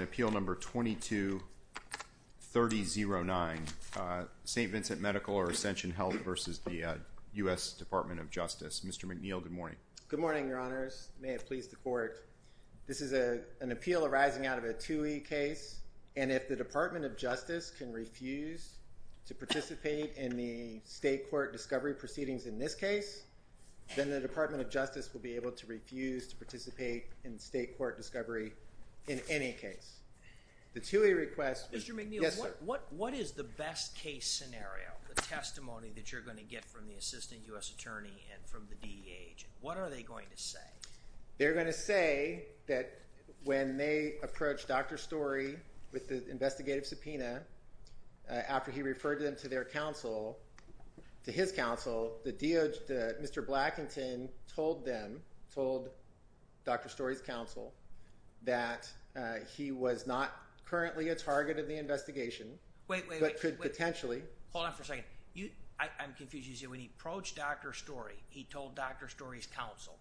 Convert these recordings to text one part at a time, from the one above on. Appeal No. 22-3009, St. Vincent Medical or Ascension Health v. U.S. Department of Justice Mr. McNeil, good morning. Good morning, Your Honors. May it please the Court. This is an appeal arising out of a TUI case, and if the Department of Justice can refuse to participate in the state court discovery proceedings in this case, then the Department of Justice will be able to refuse to participate in state court discovery in any case. The TUI request- Mr. McNeil, what is the best case scenario, the testimony that you're going to get from the Assistant U.S. Attorney and from the DEA agent? What are they going to say? They're going to say that when they approached Dr. Storey with the investigative subpoena after he referred them to their counsel, to his counsel, the DOJ, Mr. Blackington told them, told Dr. Storey's counsel, that he was not currently a target of the investigation- Wait, wait, wait. But could potentially- Hold on for a second. I'm confused. You said when he approached Dr. Storey, he told Dr. Storey's counsel.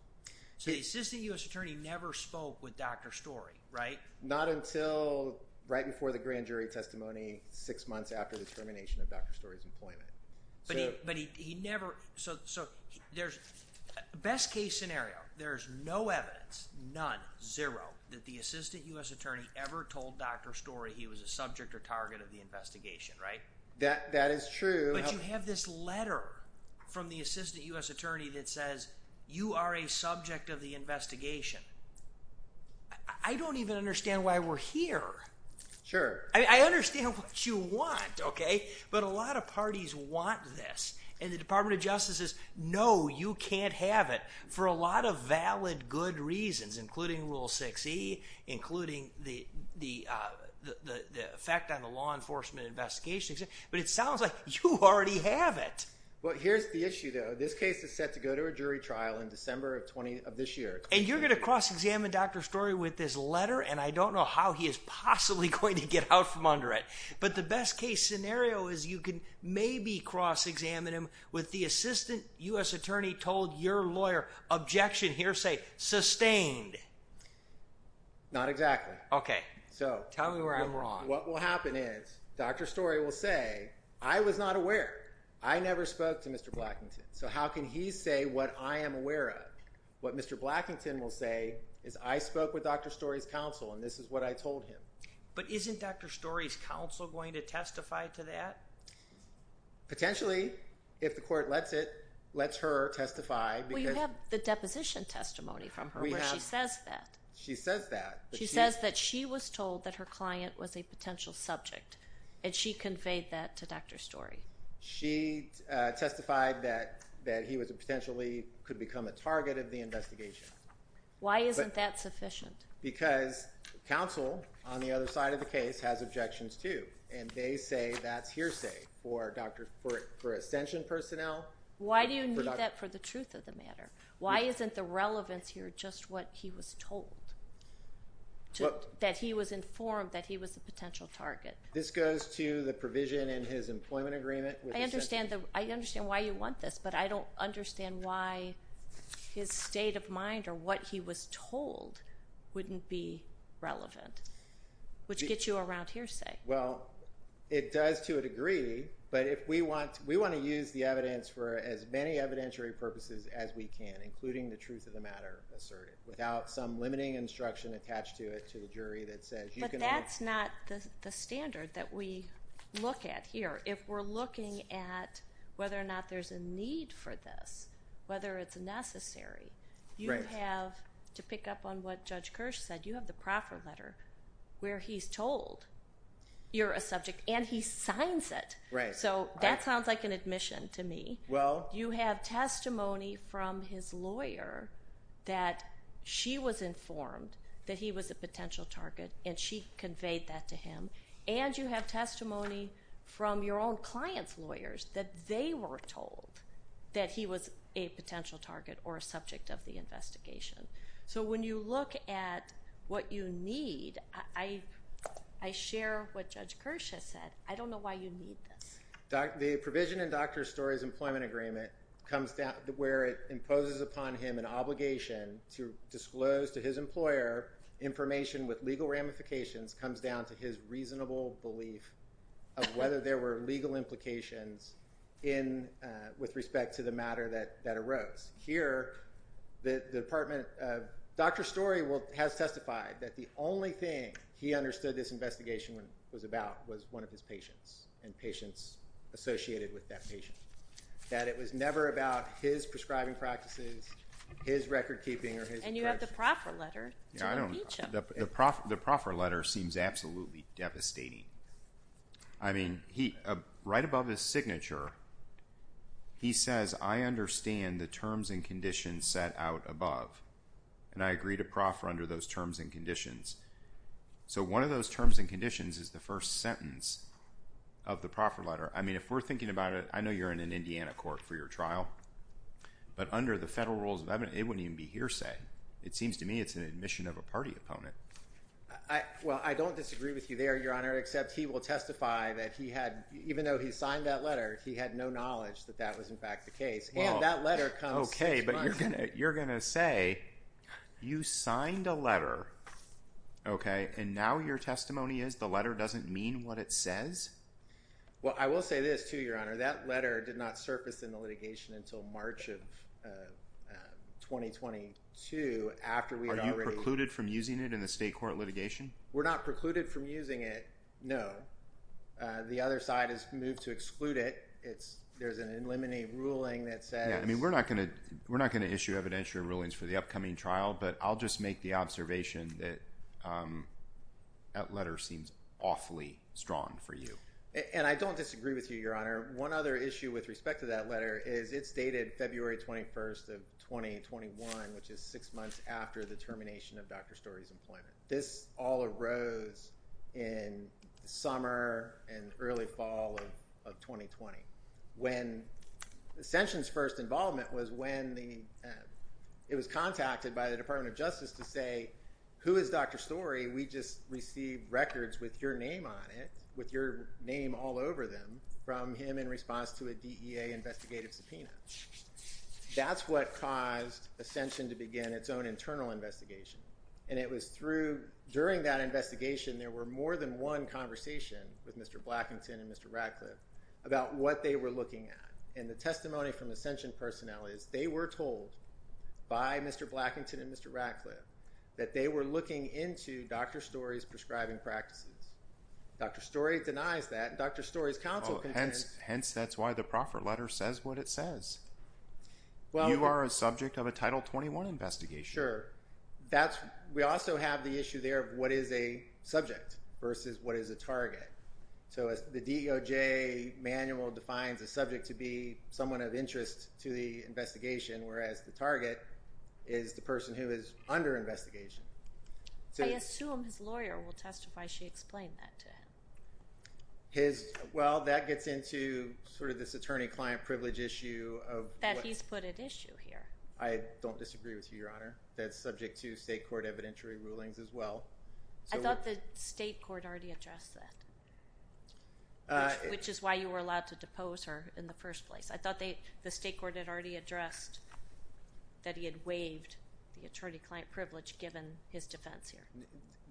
So the Assistant U.S. Attorney never spoke with Dr. Storey, right? Not until right before the grand jury testimony, six months after the termination of Dr. Storey's employment. But he never, so there's, best case scenario, there's no evidence, none, zero, that the Assistant U.S. Attorney ever told Dr. Storey he was a subject or target of the investigation, right? That is true. But you have this letter from the Assistant U.S. Attorney that says, you are a subject of the investigation. I don't even understand why we're here. Sure. I understand what you want, okay? But a lot of parties want this, and the Department of Justice says, no, you can't have it, for a lot of valid, good reasons, including Rule 6e, including the effect on the law enforcement investigation. But it sounds like you already have it. Well here's the issue though, this case is set to go to a jury trial in December of this year. And you're going to cross-examine Dr. Storey with this letter, and I don't know how he is possibly going to get out from under it. But the best case scenario is you can maybe cross-examine him with the Assistant U.S. Attorney told your lawyer, objection, hearsay, sustained. Not exactly. Okay. Tell me where I'm wrong. What will happen is, Dr. Storey will say, I was not aware. I never spoke to Mr. Blackington. So how can he say what I am aware of? What Mr. Blackington will say is, I spoke with Dr. Storey's counsel, and this is what I told him. But isn't Dr. Storey's counsel going to testify to that? Potentially, if the court lets it, lets her testify. Well you have the deposition testimony from her, where she says that. She says that. She says that she was told that her client was a potential subject, and she conveyed that to Dr. Storey. She testified that he could potentially become a target of the investigation. Why isn't that sufficient? Because counsel, on the other side of the case, has objections too, and they say that's hearsay for Ascension personnel. Why do you need that for the truth of the matter? Why isn't the relevance here just what he was told? That he was informed that he was a potential target? This goes to the provision in his employment agreement. I understand why you want this, but I don't understand why his state of mind or what he was told wouldn't be relevant, which gets you around hearsay. Well, it does to a degree, but we want to use the evidence for as many evidentiary purposes as we can, including the truth of the matter asserted, without some limiting instruction attached to it to the jury that says you can only- But that's not the standard that we look at here. If we're looking at whether or not there's a need for this, whether it's necessary, you have, to pick up on what Judge Kirsch said, you have the proffer letter where he's told you're a subject, and he signs it. So that sounds like an admission to me. Well- You have testimony from his lawyer that she was informed that he was a potential target, and she conveyed that to him. And you have testimony from your own client's lawyers that they were told that he was a potential target or a subject of the investigation. So when you look at what you need, I share what Judge Kirsch has said. I don't know why you need this. The provision in Dr. Story's employment agreement comes down to where it imposes upon him an obligation to disclose to his employer information with legal ramifications comes down to his reasonable belief of whether there were legal implications with respect to the matter that arose. Here, the department, Dr. Story has testified that the only thing he understood this investigation was about was one of his patients and patients associated with that patient. That it was never about his prescribing practices, his record keeping, or his- And you have the proffer letter to impeach him. The proffer letter seems absolutely devastating. I mean, right above his signature, he says, I understand the terms and conditions set out above, and I agree to proffer under those terms and conditions. So one of those terms and conditions is the first sentence of the proffer letter. I mean, if we're thinking about it, I know you're in an Indiana court for your trial, but under the federal rules of evidence, it wouldn't even be hearsay. It seems to me it's an admission of a party opponent. Well, I don't disagree with you there, Your Honor, except he will testify that he had, even though he signed that letter, he had no knowledge that that was in fact the case. And that letter comes- Okay, but you're going to say you signed a letter, okay? And now your testimony is the letter doesn't mean what it says? Well, I will say this too, Your Honor. That letter did not surface in the litigation until March of 2022 after we had already- Are you precluded from using it in the state court litigation? We're not precluded from using it, no. The other side has moved to exclude it. There's an eliminate ruling that says- We're not going to issue evidentiary rulings for the upcoming trial, but I'll just make the observation that that letter seems awfully strong for you. And I don't disagree with you, Your Honor. One other issue with respect to that letter is it's dated February 21st of 2021, which is six months after the termination of Dr. Story's employment. This all arose in the summer and early fall of 2020. Ascension's first involvement was when it was contacted by the Department of Justice to say, who is Dr. Story? We just received records with your name on it, with your name all over them from him in response to a DEA investigative subpoena. That's what caused Ascension to begin its own internal investigation. And it was through- During that investigation, there were more than one conversation with Mr. Blackington and Mr. Ratcliffe about what they were looking at. And the testimony from Ascension personnel is they were told by Mr. Blackington and Mr. Ratcliffe that they were looking into Dr. Story's prescribing practices. Dr. Story denies that, and Dr. Story's counsel- Hence, that's why the proffer letter says what it says. You are a subject of a Title 21 investigation. Sure. We also have the issue there of what is a subject versus what is a target. So the DOJ manual defines a subject to be someone of interest to the investigation, whereas the target is the person who is under investigation. I assume his lawyer will testify she explained that to him. Well, that gets into sort of this attorney-client privilege issue of- That he's put at issue here. I don't disagree with you, Your Honor. That's subject to state court evidentiary rulings as well. I thought the state court already addressed that. Which is why you were allowed to depose her in the first place. I thought the state court had already addressed that he had waived the attorney-client privilege given his defense here.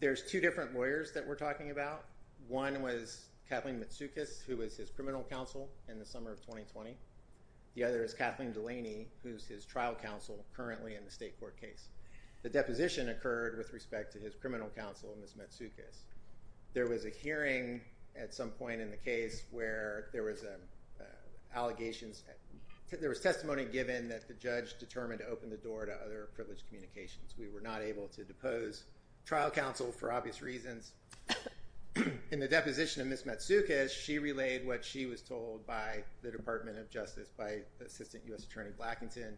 There's two different lawyers that we're talking about. One was Kathleen Matsoukas, who was his criminal counsel in the summer of 2020. The other is Kathleen Delaney, who's his trial counsel currently in the state court case. The deposition occurred with respect to his criminal counsel, Ms. Matsoukas. There was a hearing at some point in the case where there was testimony given that the judge determined to open the door to other privileged communications. We were not able to depose trial counsel for obvious reasons. In the deposition of Ms. Matsoukas, she relayed what she was told by the Department of Justice, by Assistant U.S. Attorney Blackington.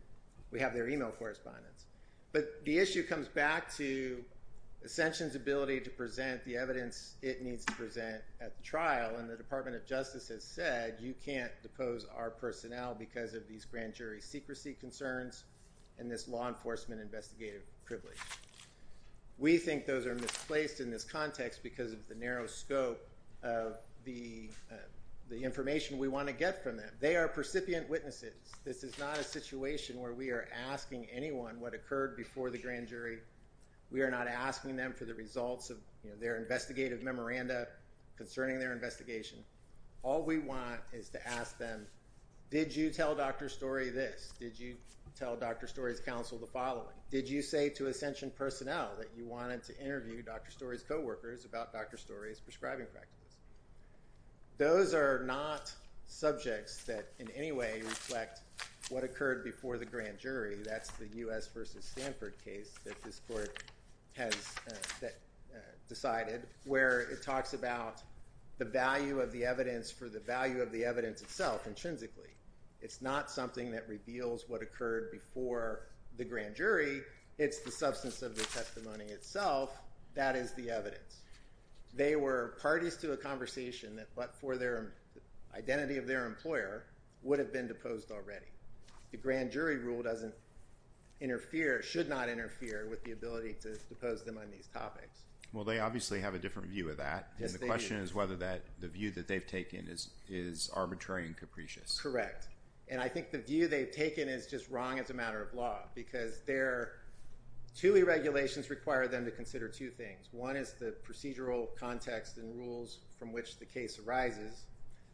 We have their email correspondence. But the issue comes back to Ascension's ability to present the evidence it needs to present at the trial. And the Department of Justice has said you can't depose our personnel because of these grand jury secrecy concerns and this law enforcement investigative privilege. We think those are misplaced in this context because of the narrow scope of the information we want to get from them. They are percipient witnesses. This is not a situation where we are asking anyone what occurred before the grand jury. We are not asking them for the results of their investigative memoranda concerning their investigation. All we want is to ask them, did you tell Dr. Story this? Did you tell Dr. Story's counsel the following? Did you say to Ascension personnel that you wanted to interview Dr. Story's co-workers about Dr. Story's prescribing practices? Those are not subjects that in any way reflect what occurred before the grand jury. That's the U.S. v. Stanford case that this court has decided where it talks about the value of the evidence for the value of the evidence itself intrinsically. It's not something that reveals what occurred before the grand jury. It's the substance of the testimony itself. That is the evidence. They were parties to a conversation that for the identity of their employer would have been deposed already. The grand jury rule should not interfere with the ability to depose them on these topics. Well, they obviously have a different view of that. The question is whether the view that they've taken is arbitrary and capricious. Correct. I think the view they've taken is just wrong as a matter of law because two irregulations require them to consider two things. One is the procedural context and rules from which the case arises.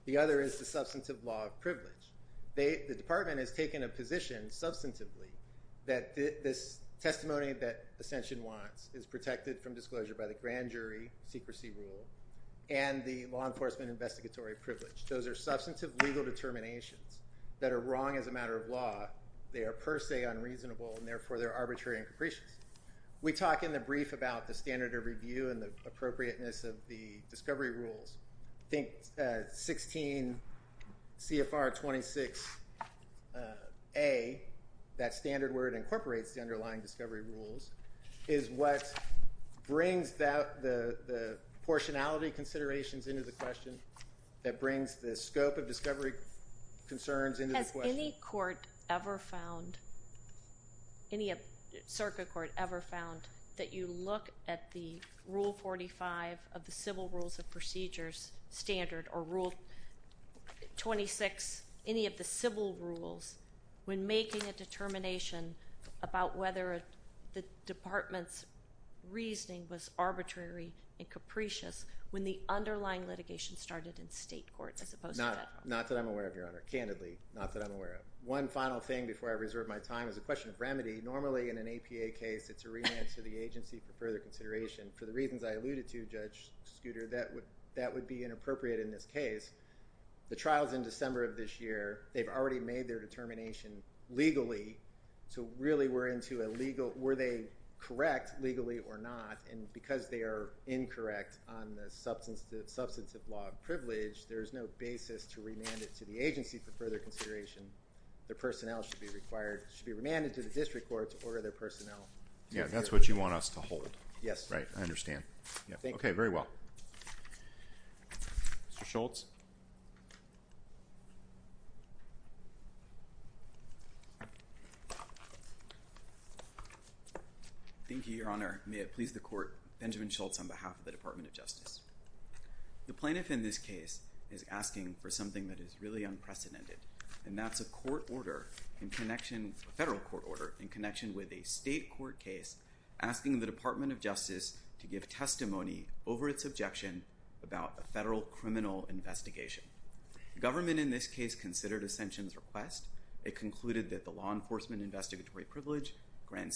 The other is the substantive law of privilege. The department has taken a position substantively that this testimony that Ascension wants is protected from disclosure by the grand jury secrecy rule and the law enforcement investigatory privilege. Those are substantive legal determinations that are wrong as a matter of law. They are per se unreasonable, and therefore they're arbitrary and capricious. We talk in the brief about the standard of review and the appropriateness of the discovery rules. I think 16 CFR 26A, that standard word, incorporates the underlying discovery rules, is what brings the portionality considerations into the question that brings the scope of discovery concerns into the question. Has any circuit court ever found that you look at the Rule 45 of the Civil Rules of Procedures standard or Rule 26, any of the civil rules, when making a determination about whether the department's reasoning was arbitrary and capricious when the underlying litigation started in state court as opposed to federal? Not that I'm aware of, Your Honor. Candidly, not that I'm aware of. One final thing before I reserve my time is a question of remedy. Normally in an APA case, it's a remand to the agency for further consideration. For the reasons I alluded to, Judge Scooter, that would be inappropriate in this case. The trial's in December of this year. They've already made their determination legally, so really we're into were they correct legally or not, and because they are incorrect on the substantive law of privilege, there is no basis to remand it to the agency for further consideration. Their personnel should be remanded to the district court to order their personnel. Yeah, that's what you want us to hold. Yes. Right, I understand. Thank you. Okay, very well. Mr. Schultz. Thank you, Your Honor. May it please the court, Benjamin Schultz on behalf of the Department of Justice. The plaintiff in this case is asking for something that is really unprecedented, and that's a court order in connection, a federal court order in connection with a state court case asking the Department of Justice to give testimony over its objection about a federal criminal investigation. Government in this case considered Ascension's request. It concluded that the law enforcement investigatory privilege, grand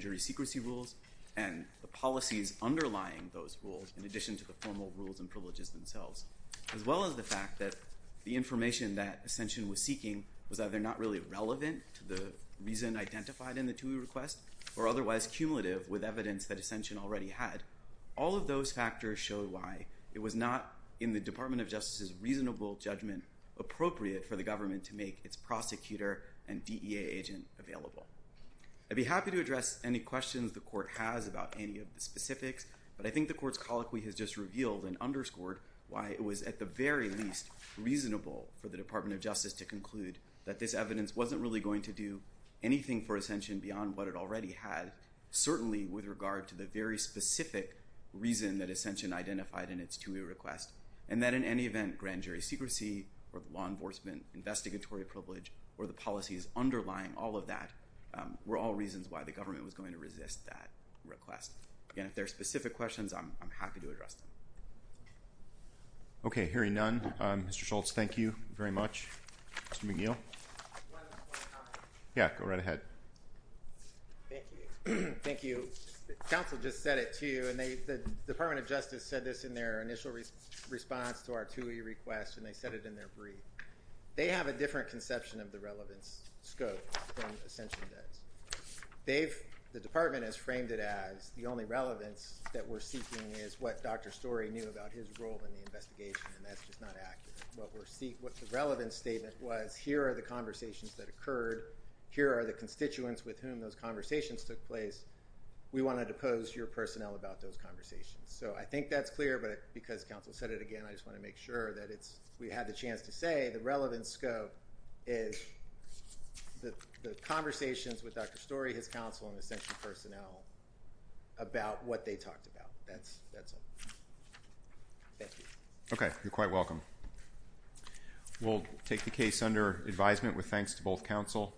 jury secrecy rules, and the policies underlying those rules, in addition to the formal rules and privileges themselves, as well as the fact that the information that Ascension was seeking was either not really relevant to the reason identified in the TUI request or otherwise cumulative with evidence that Ascension already had. All of those factors show why it was not, in the Department of Justice's reasonable judgment, appropriate for the government to make its prosecutor and DEA agent available. I'd be happy to address any questions the court has about any of the specifics, but I think the court's colloquy has just revealed and underscored why it was at the very least reasonable for the Department of Justice to conclude that this evidence wasn't really going to do anything for Ascension beyond what it already had, certainly with regard to the very specific reason that Ascension identified in its TUI request, and that in any event, grand jury secrecy, or the law enforcement investigatory privilege, or the policies underlying all of that were all reasons why the government was going to resist that request. Again, if there are specific questions, I'm happy to address them. Okay, hearing none, Mr. Schultz, thank you very much. Mr. McGill? One comment. Yeah, go right ahead. Thank you. Council just said it to you, and the Department of Justice said this in their initial response to our TUI request, and they said it in their brief. They have a different conception of the relevance scope from Ascension does. The Department has framed it as the only relevance that we're seeking is what Dr. Storey knew about his role in the investigation, and that's just not accurate. What the relevance statement was, here are the conversations that occurred. Here are the constituents with whom those conversations took place. We want to depose your personnel about those conversations. So I think that's clear, but because Council said it again, I just want to make sure that we had the chance to say the relevance scope is the conversations with Dr. Storey, his counsel, and Ascension personnel about what they talked about. That's all. Thank you. Okay, you're quite welcome. We'll take the case under advisement with thanks to both counsel.